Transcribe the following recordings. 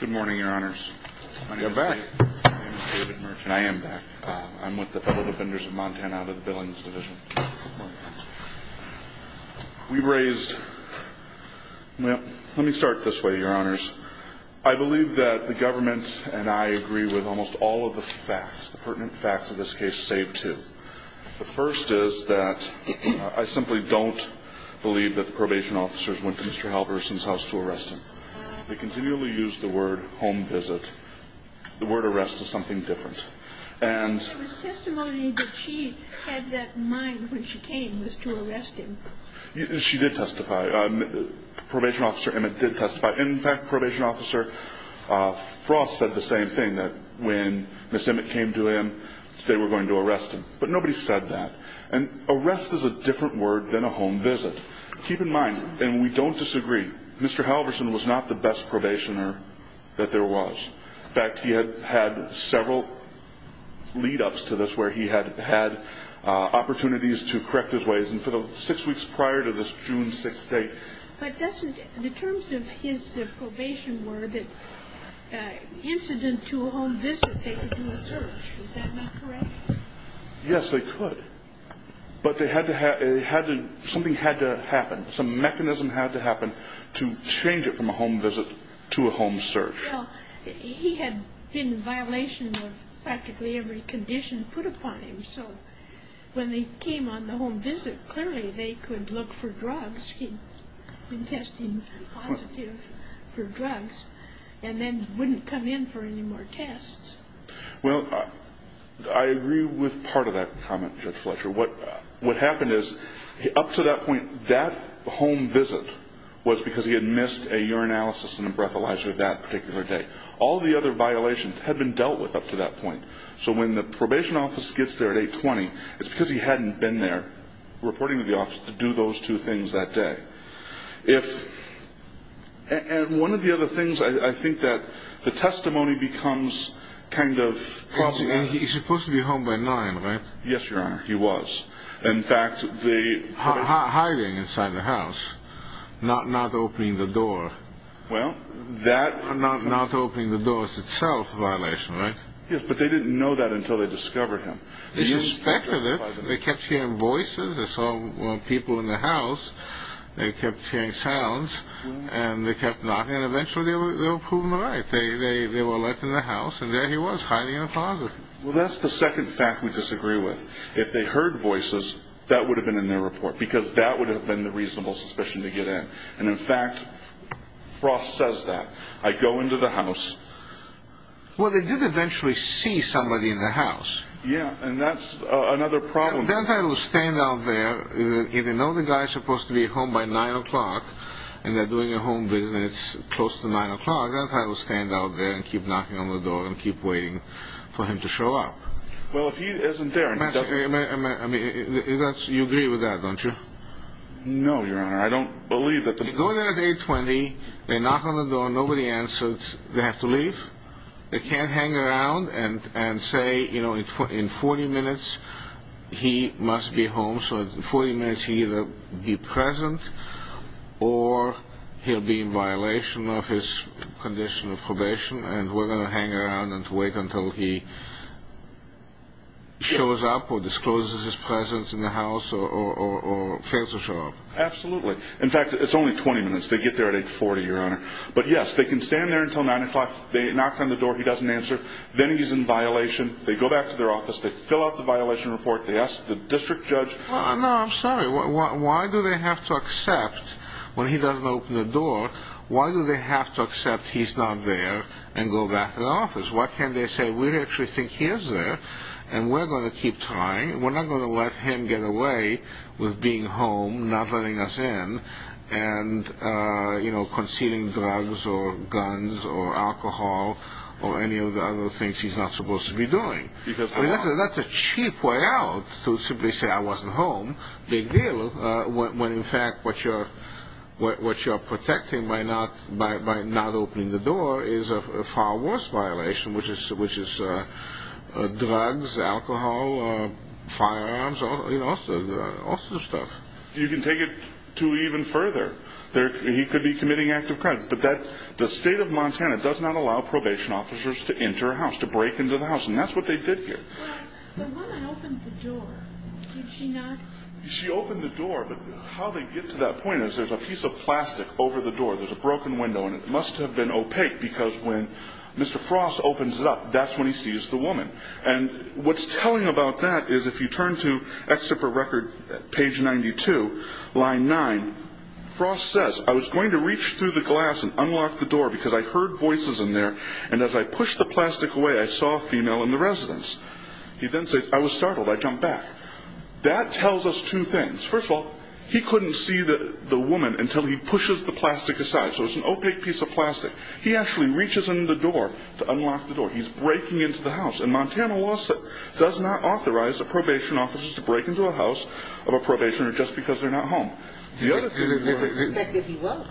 Good morning, your honors. I am back. I'm with the Federal Defenders of Montana out of the Billings Division. We raised, well, let me start this way, your honors. I believe that the government and I agree with almost all of the facts, the pertinent facts of this case, save two. The first is that I simply don't believe that the probation officers went to Mr. Halvorsen's house to arrest him. We continually use the word home visit. The word arrest is something different. There was testimony that she had that in mind when she came, was to arrest him. She did testify. Probation officer Emmett did testify. In fact, probation officer Frost said the same thing, that when Ms. Emmett came to him, they were going to arrest him. But nobody said that. And arrest is a different word than a home visit. Keep in mind, and we don't disagree, Mr. Halvorsen was not the best probationer that there was. In fact, he had had several lead-ups to this where he had had opportunities to correct his ways. And for the six weeks prior to this June 6th date – But doesn't – the terms of his probation were that incident to a home visit they could do a search. Is that not correct? Yes, they could. But they had to have – something had to happen. Some mechanism had to happen to change it from a home visit to a home search. Well, he had been in violation of practically every condition put upon him. So when they came on the home visit, clearly they could look for drugs. He'd been testing positive for drugs and then wouldn't come in for any more tests. Well, I agree with part of that comment, Judge Fletcher. What happened is, up to that point, that home visit was because he had missed a urinalysis and a breathalyzer that particular day. All the other violations had been dealt with up to that point. So when the probation office gets there at 820, it's because he hadn't been there reporting to the office to do those two things that day. And one of the other things, I think, that the testimony becomes kind of – Well, he's supposed to be home by 9, right? Yes, Your Honor, he was. In fact, they – Hiding inside the house, not opening the door. Well, that – Not opening the doors itself, violation, right? Yes, but they didn't know that until they discovered him. They suspected it. They kept hearing voices. They saw people in the house. They kept hearing sounds, and they kept knocking, and eventually they were proven right. They were let in the house, and there he was, hiding in a closet. Well, that's the second fact we disagree with. If they heard voices, that would have been in their report, because that would have been the reasonable suspicion to get in. And in fact, Frost says that. I go into the house – Well, they did eventually see somebody in the house. Yeah, and that's another problem. That's how he'll stand out there. If they know the guy's supposed to be home by 9 o'clock, and they're doing a home visit, and it's close to 9 o'clock, that's how he'll stand out there and keep knocking on the door and keep waiting for him to show up. Well, if he isn't there – I mean, you agree with that, don't you? No, Your Honor, I don't believe that the – You go there at 820, they knock on the door, nobody answers, they have to leave? They can't hang around and say, you know, in 40 minutes he must be home, so in 40 minutes he'll either be present or he'll be in violation of his condition of probation, and we're going to hang around and wait until he shows up or discloses his presence in the house or fails to show up. Absolutely. In fact, it's only 20 minutes. They get there at 840, Your Honor. But, yes, they can stand there until 9 o'clock, they knock on the door, he doesn't answer, then he's in violation, they go back to their office, they fill out the violation report, they ask the district judge – No, I'm sorry, why do they have to accept, when he doesn't open the door, why do they have to accept he's not there and go back to the office? Why can't they say, we actually think he is there, and we're going to keep trying, we're not going to let him get away with being home, not letting us in, and, you know, concealing drugs or guns or alcohol or any of the other things he's not supposed to be doing. That's a cheap way out to simply say, I wasn't home, big deal, when in fact what you're protecting by not opening the door is a far worse violation, which is drugs, alcohol, firearms, you know, all sorts of stuff. You can take it to even further. He could be committing active crime, but the state of Montana does not allow probation officers to enter a house, to break into the house, and that's what they did here. The woman opened the door, did she not? She opened the door, but how they get to that point is there's a piece of plastic over the door, there's a broken window, and it must have been opaque because when Mr. Frost opens it up, that's when he sees the woman. And what's telling about that is if you turn to Exit for Record, page 92, line 9, Frost says, I was going to reach through the glass and unlock the door because I heard voices in there, and as I pushed the plastic away, I saw a female in the residence. He then says, I was startled, I jumped back. That tells us two things. First of all, he couldn't see the woman until he pushes the plastic aside, so it's an opaque piece of plastic. He actually reaches in the door to unlock the door. He's breaking into the house, and Montana law does not authorize a probation officer to break into a house of a probationer just because they're not home. They suspected he was.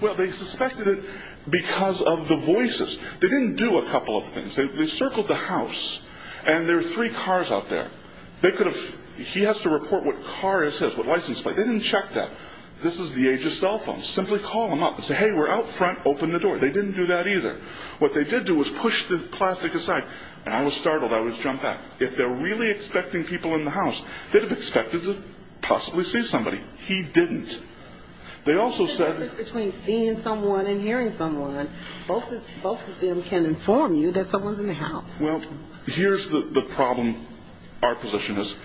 Well, they suspected it because of the voices. They didn't do a couple of things. They circled the house, and there are three cars out there. He has to report what car is his, what license plate. They didn't check that. This is the age of cell phones. Simply call them up and say, hey, we're out front, open the door. They didn't do that either. What they did do was push the plastic aside, and I was startled, I would jump back. If they're really expecting people in the house, they'd have expected to possibly see somebody. He didn't. There's a difference between seeing someone and hearing someone. Both of them can inform you that someone's in the house. Well, here's the problem our position is.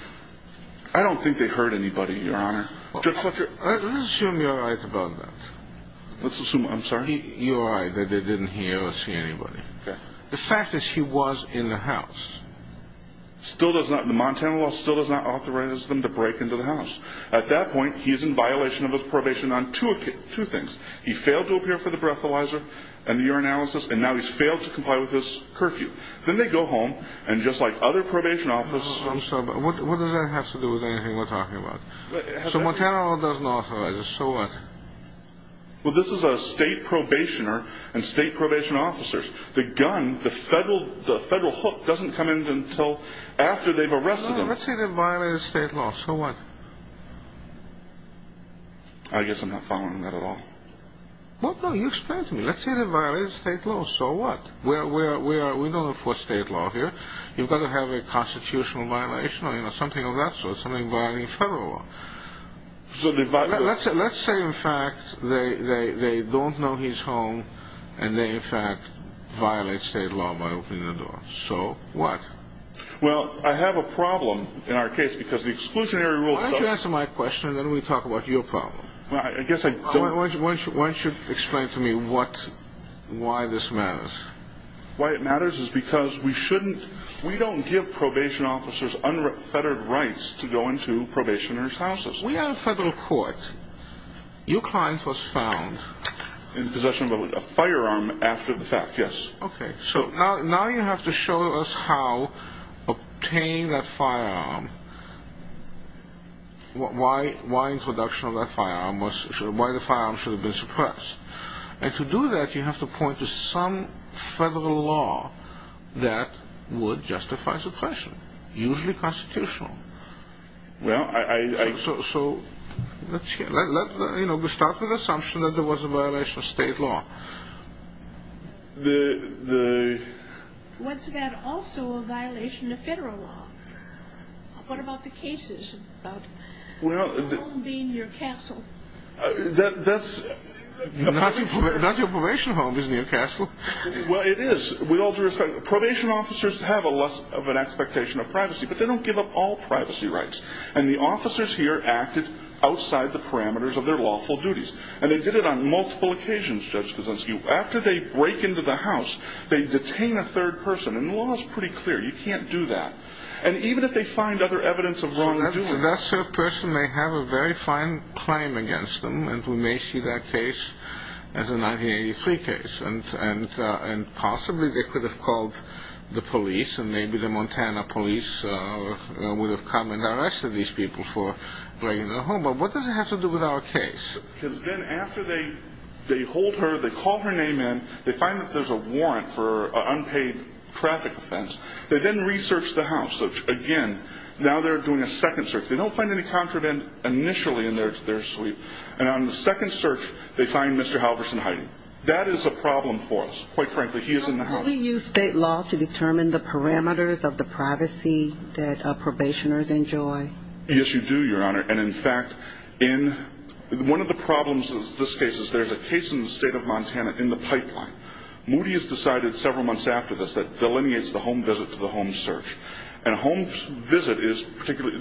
I don't think they heard anybody, Your Honor. Let's assume you're right about that. Let's assume. I'm sorry. You're right that they didn't hear or see anybody. The fact is he was in the house. The Montana law still does not authorize them to break into the house. At that point, he's in violation of his probation on two things. He failed to appear for the breathalyzer and the urinalysis, and now he's failed to comply with his curfew. Then they go home, and just like other probation officers. I'm sorry, but what does that have to do with anything we're talking about? So Montana law doesn't authorize us, so what? Well, this is a state probationer and state probation officers. The gun, the federal hook, doesn't come in until after they've arrested them. Let's say they violated state law, so what? I guess I'm not following that at all. Well, no, you explain it to me. Let's say they violated state law, so what? We don't enforce state law here. You've got to have a constitutional violation or something of that sort, something violating federal law. Let's say, in fact, they don't know he's home, and they, in fact, violate state law by opening the door. So what? Well, I have a problem in our case because the exclusionary rule. Why don't you answer my question, and then we talk about your problem? Well, I guess I don't. Why don't you explain to me what, why this matters? Why it matters is because we shouldn't, we don't give probation officers unfettered rights to go into probationer's houses. We have a federal court. Your client was found. In possession of a firearm after the fact, yes. Okay, so now you have to show us how obtaining that firearm, why introduction of that firearm, why the firearm should have been suppressed. And to do that, you have to point to some federal law that would justify suppression, usually constitutional. Well, I... So let's start with the assumption that there was a violation of state law. The... Was that also a violation of federal law? What about the cases about your home being near a castle? That's... Not your probation home is near a castle. Well, it is. With all due respect, probation officers have a less of an expectation of privacy, but they don't give up all privacy rights. And the officers here acted outside the parameters of their lawful duties. And they did it on multiple occasions, Judge Krasinski. After they break into the house, they detain a third person. And the law is pretty clear. You can't do that. And even if they find other evidence of wrongdoing... So that third person may have a very fine claim against them, and we may see that case as a 1983 case. And possibly they could have called the police, and maybe the Montana police would have come and arrested these people for breaking into the home. But what does it have to do with our case? Because then after they hold her, they call her name in, they find that there's a warrant for an unpaid traffic offense. They then research the house. Again, now they're doing a second search. They don't find any contraband initially in their sweep. And on the second search, they find Mr. Halverson hiding. That is a problem for us. Quite frankly, he is in the house. How do we use state law to determine the parameters of the privacy that probationers enjoy? Yes, you do, Your Honor. And, in fact, one of the problems in this case is there's a case in the state of Montana in the pipeline. Moody has decided several months after this that it delineates the home visit to the home search. And a home visit is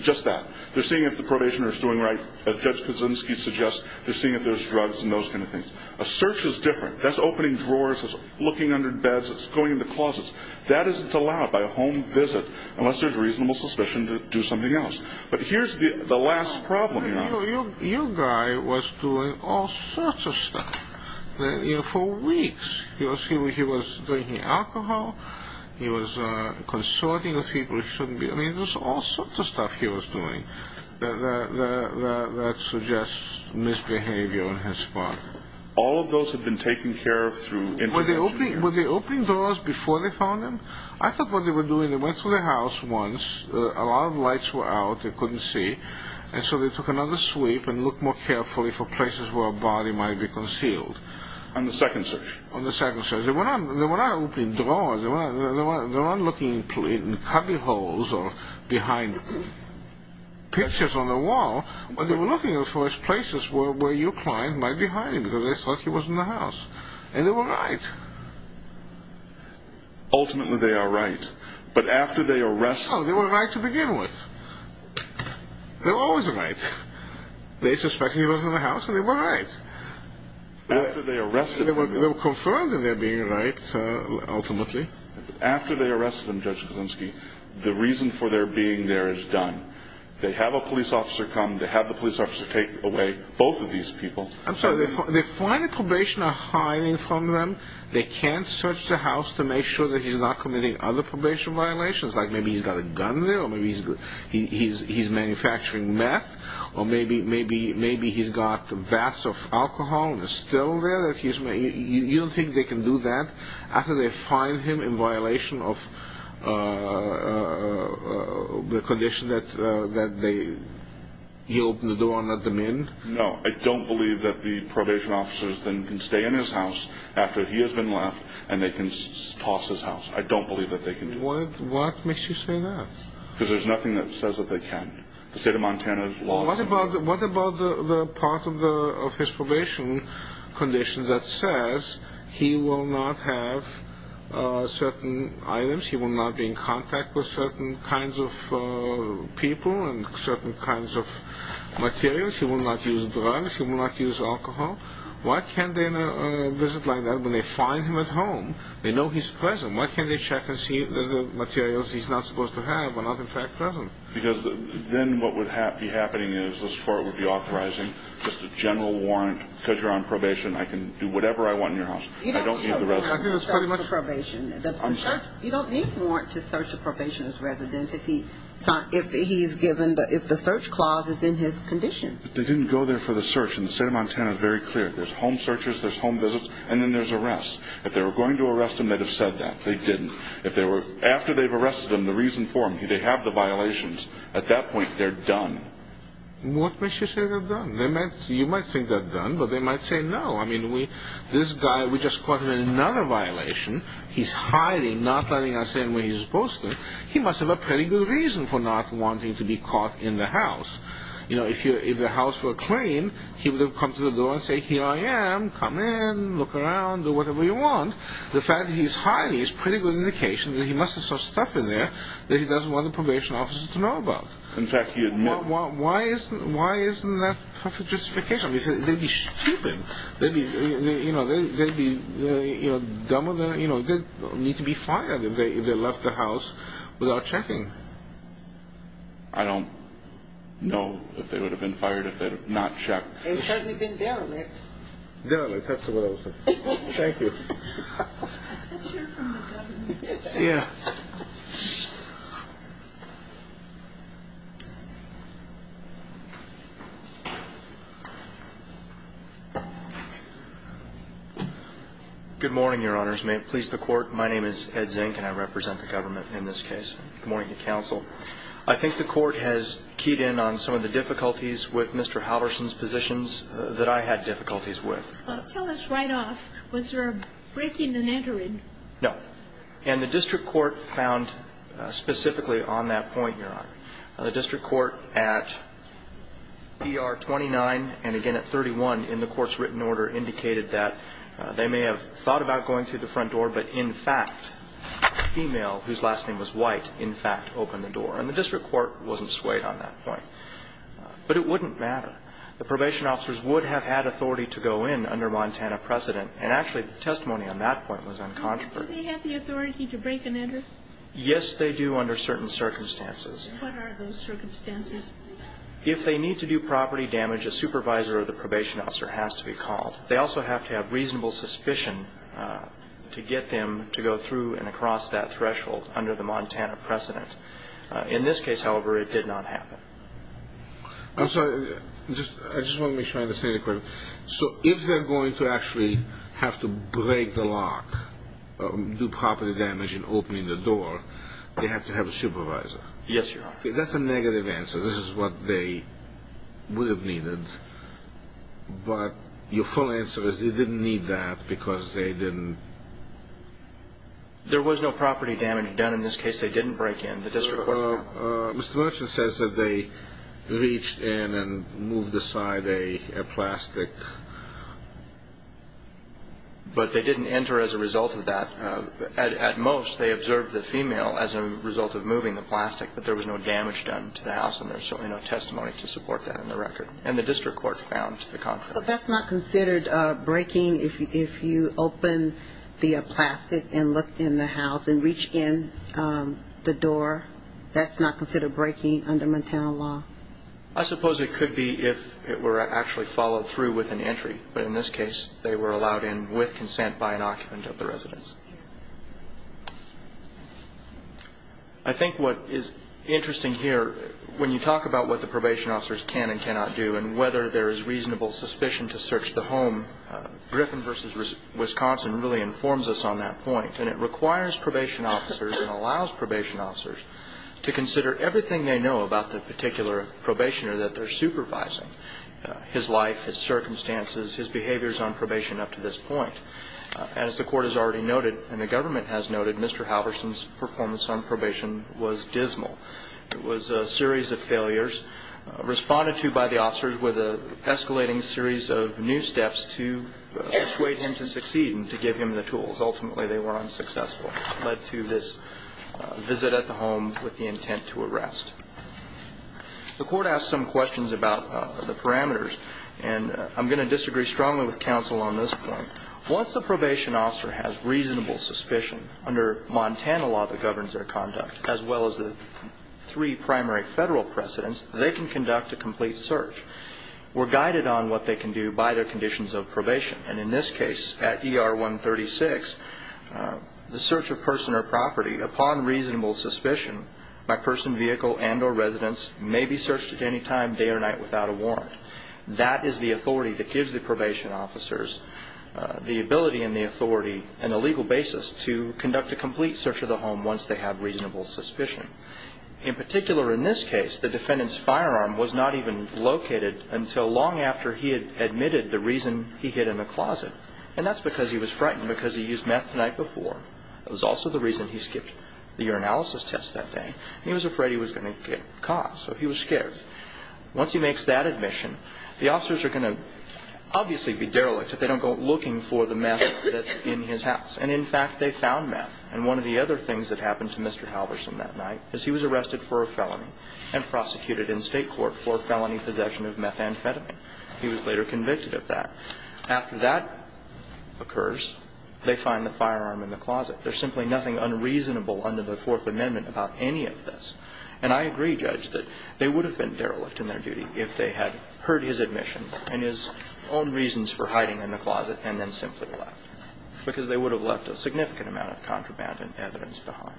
just that. They're seeing if the probationer is doing right, as Judge Kaczynski suggests. They're seeing if there's drugs and those kind of things. A search is different. That's opening drawers. That's looking under beds. That's going into closets. That is allowed by a home visit, unless there's reasonable suspicion to do something else. But here's the last problem, Your Honor. Your guy was doing all sorts of stuff for weeks. He was drinking alcohol. He was consorting with people he shouldn't be. I mean, there's all sorts of stuff he was doing that suggests misbehavior on his part. All of those have been taken care of through information. Were they opening doors before they found him? I thought what they were doing, they went through the house once. A lot of lights were out. They couldn't see. And so they took another sweep and looked more carefully for places where a body might be concealed. On the second search? On the second search. They were not opening drawers. They were not looking in cubbyholes or behind pictures on the wall. But they were looking at the first places where your client might be hiding because they thought he was in the house. And they were right. Ultimately, they are right. No, they were right to begin with. They were always right. They suspected he was in the house, and they were right. They were confirmed in their being right, ultimately. After they arrested him, Judge Kulinski, the reason for their being there is done. They have a police officer come. They have the police officer take away both of these people. I'm sorry. They find the probationer hiding from them. They can't search the house to make sure that he's not committing other probation violations, like maybe he's got a gun there or maybe he's manufacturing meth, or maybe he's got vats of alcohol and it's still there. You don't think they can do that after they find him in violation of the condition that he opened the door and let them in? No. I don't believe that the probation officers then can stay in his house after he has been left, and they can toss his house. I don't believe that they can do that. What makes you say that? Because there's nothing that says that they can. The state of Montana's laws. What about the part of his probation condition that says he will not have certain items, he will not be in contact with certain kinds of people and certain kinds of materials, he will not use drugs, he will not use alcohol. Why can't they visit like that when they find him at home? They know he's present. Why can't they check and see that the materials he's not supposed to have are not in fact present? Because then what would be happening is the court would be authorizing just a general warrant, because you're on probation, I can do whatever I want in your house. I don't need the residence. You don't need a warrant to search a probationer's residence if the search clause is in his condition. They didn't go there for the search, and the state of Montana is very clear. There's home searches, there's home visits, and then there's arrests. If they were going to arrest him, they'd have said that. They didn't. After they've arrested him, the reason for him, they have the violations. At that point, they're done. What makes you say they're done? You might think they're done, but they might say no. This guy, we just caught him in another violation. He's hiding, not letting us in where he's supposed to. He must have a pretty good reason for not wanting to be caught in the house. If the house were clean, he would have come to the door and said, Here I am, come in, look around, do whatever you want. The fact that he's hiding is a pretty good indication that he must have some stuff in there that he doesn't want the probation officers to know about. In fact, he admitted it. Why isn't that a perfect justification? They'd be stupid. They'd be dumb enough. They'd need to be fired if they left the house without checking. I don't know if they would have been fired if they had not checked. They would certainly have been derelict. Derelict, that's what I would say. Thank you. Let's hear from the government. Yeah. Good morning, Your Honors. May it please the Court. My name is Ed Zink, and I represent the government in this case. Good morning to counsel. I think the Court has keyed in on some of the difficulties with Mr. Halverson's positions that I had difficulties with. Tell us right off, was there a breaking and entering? No. And the district court found specifically on that point, Your Honor, the district court at ER 29 and again at 31 in the court's written order indicated that they may have thought about going through the front door, but in fact a female whose last name was White in fact opened the door. And the district court wasn't swayed on that point. But it wouldn't matter. The probation officers would have had authority to go in under Montana precedent, and actually the testimony on that point was uncontroversial. Do they have the authority to break and enter? Yes, they do under certain circumstances. What are those circumstances? If they need to do property damage, a supervisor or the probation officer has to be called. They also have to have reasonable suspicion to get them to go through and across that threshold under the Montana precedent. In this case, however, it did not happen. I'm sorry, I just want to make sure I understand the question. So if they're going to actually have to break the lock, do property damage in opening the door, they have to have a supervisor? Yes, Your Honor. That's a negative answer. This is what they would have needed. But your full answer is they didn't need that because they didn't. There was no property damage done in this case. They didn't break in. The district court did not. Mr. Murchin says that they reached in and moved aside a plastic. But they didn't enter as a result of that. At most, they observed the female as a result of moving the plastic, but there was no damage done to the house, and there's certainly no testimony to support that on the record. And the district court found the contrary. So that's not considered breaking if you open the plastic and look in the house and reach in the door? That's not considered breaking under Montana law? I suppose it could be if it were actually followed through with an entry. But in this case, they were allowed in with consent by an occupant of the residence. I think what is interesting here, when you talk about what the probation officers can and cannot do and whether there is reasonable suspicion to search the home, Griffin v. Wisconsin really informs us on that point. And it requires probation officers and allows probation officers to consider everything they know about the particular probationer that they're supervising, his life, his circumstances, his behaviors on probation up to this point. As the court has already noted and the government has noted, Mr. Halverson's performance on probation was dismal. It was a series of failures responded to by the officers with an escalating series of new steps to persuade him to succeed and to give him the tools. Ultimately, they were unsuccessful, led to this visit at the home with the intent to arrest. The court asked some questions about the parameters, and I'm going to disagree strongly with counsel on this point. Once the probation officer has reasonable suspicion under Montana law that governs their conduct, as well as the three primary federal precedents, they can conduct a complete search. We're guided on what they can do by their conditions of probation. And in this case, at ER 136, the search of person or property upon reasonable suspicion by person, vehicle, and or residence may be searched at any time, day or night, without a warrant. That is the authority that gives the probation officers the ability and the authority and the legal basis to conduct a complete search of the home once they have reasonable suspicion. In particular, in this case, the defendant's firearm was not even located until long after he had admitted the reason he hid in the closet, and that's because he was frightened because he used meth the night before. It was also the reason he skipped the urinalysis test that day. He was afraid he was going to get caught, so he was scared. Once he makes that admission, the officers are going to obviously be derelict if they don't go looking for the meth that's in his house. And, in fact, they found meth. And one of the other things that happened to Mr. Halverson that night is he was arrested for a felony and prosecuted in State court for felony possession of methamphetamine. He was later convicted of that. After that occurs, they find the firearm in the closet. There's simply nothing unreasonable under the Fourth Amendment about any of this. And I agree, Judge, that they would have been derelict in their duty if they had heard his admission and his own reasons for hiding in the closet and then simply left, because they would have left a significant amount of contraband and evidence behind.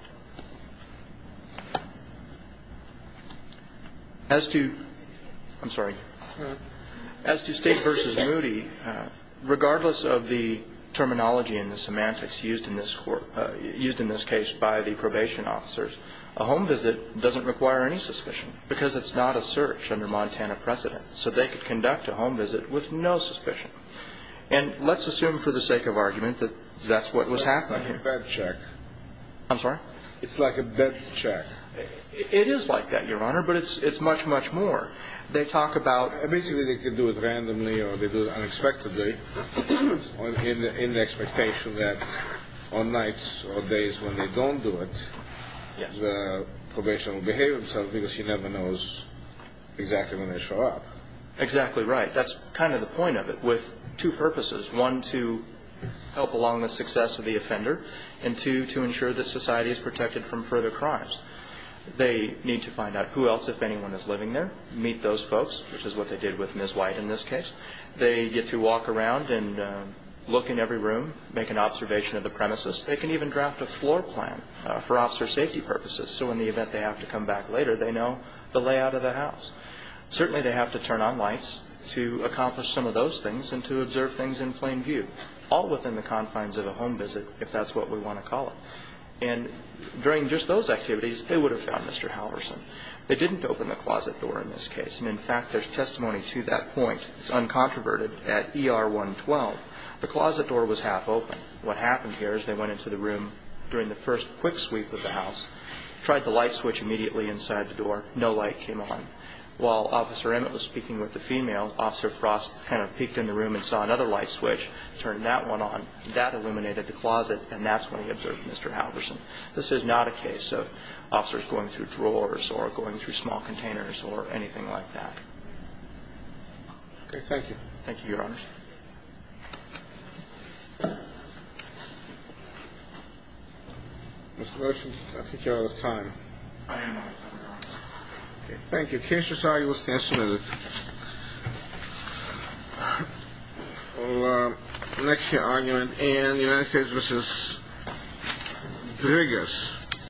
As to State v. Moody, regardless of the terminology and the semantics used in this case by the probation officers, a home visit doesn't require any suspicion because it's not a search under Montana precedent. So they could conduct a home visit with no suspicion. And let's assume for the sake of argument that that's what was happening. It's like a bed check. I'm sorry? It's like a bed check. It is like that, Your Honor, but it's much, much more. They talk about... Basically, they can do it randomly or they do it unexpectedly, in the expectation that on nights or days when they don't do it, the probation will behave themselves because he never knows exactly when they show up. Exactly right. That's kind of the point of it, with two purposes. One, to help along the success of the offender, and two, to ensure that society is protected from further crimes. They need to find out who else, if anyone, is living there, meet those folks, which is what they did with Ms. White in this case. They get to walk around and look in every room, make an observation of the premises. They can even draft a floor plan for officer safety purposes, so in the event they have to come back later, they know the layout of the house. Certainly, they have to turn on lights to accomplish some of those things and to observe things in plain view, all within the confines of a home visit, if that's what we want to call it. And during just those activities, they would have found Mr. Halverson. They didn't open the closet door in this case. And, in fact, there's testimony to that point. It's uncontroverted at ER 112. The closet door was half open. What happened here is they went into the room during the first quick sweep of the house, tried the light switch immediately inside the door. No light came on. While Officer Emmett was speaking with the female, Officer Frost kind of peeked in the room and saw another light switch, turned that one on, and that illuminated the closet, and that's when he observed Mr. Halverson. This is not a case of officers going through drawers or going through small containers or anything like that. Okay, thank you. Thank you, Your Honors. Mr. Rosen, I think you're out of time. I am out of time, Your Honor. Okay, thank you. Case resolved. You will stand submitted. We'll next hear argument in the United States v. Grigas.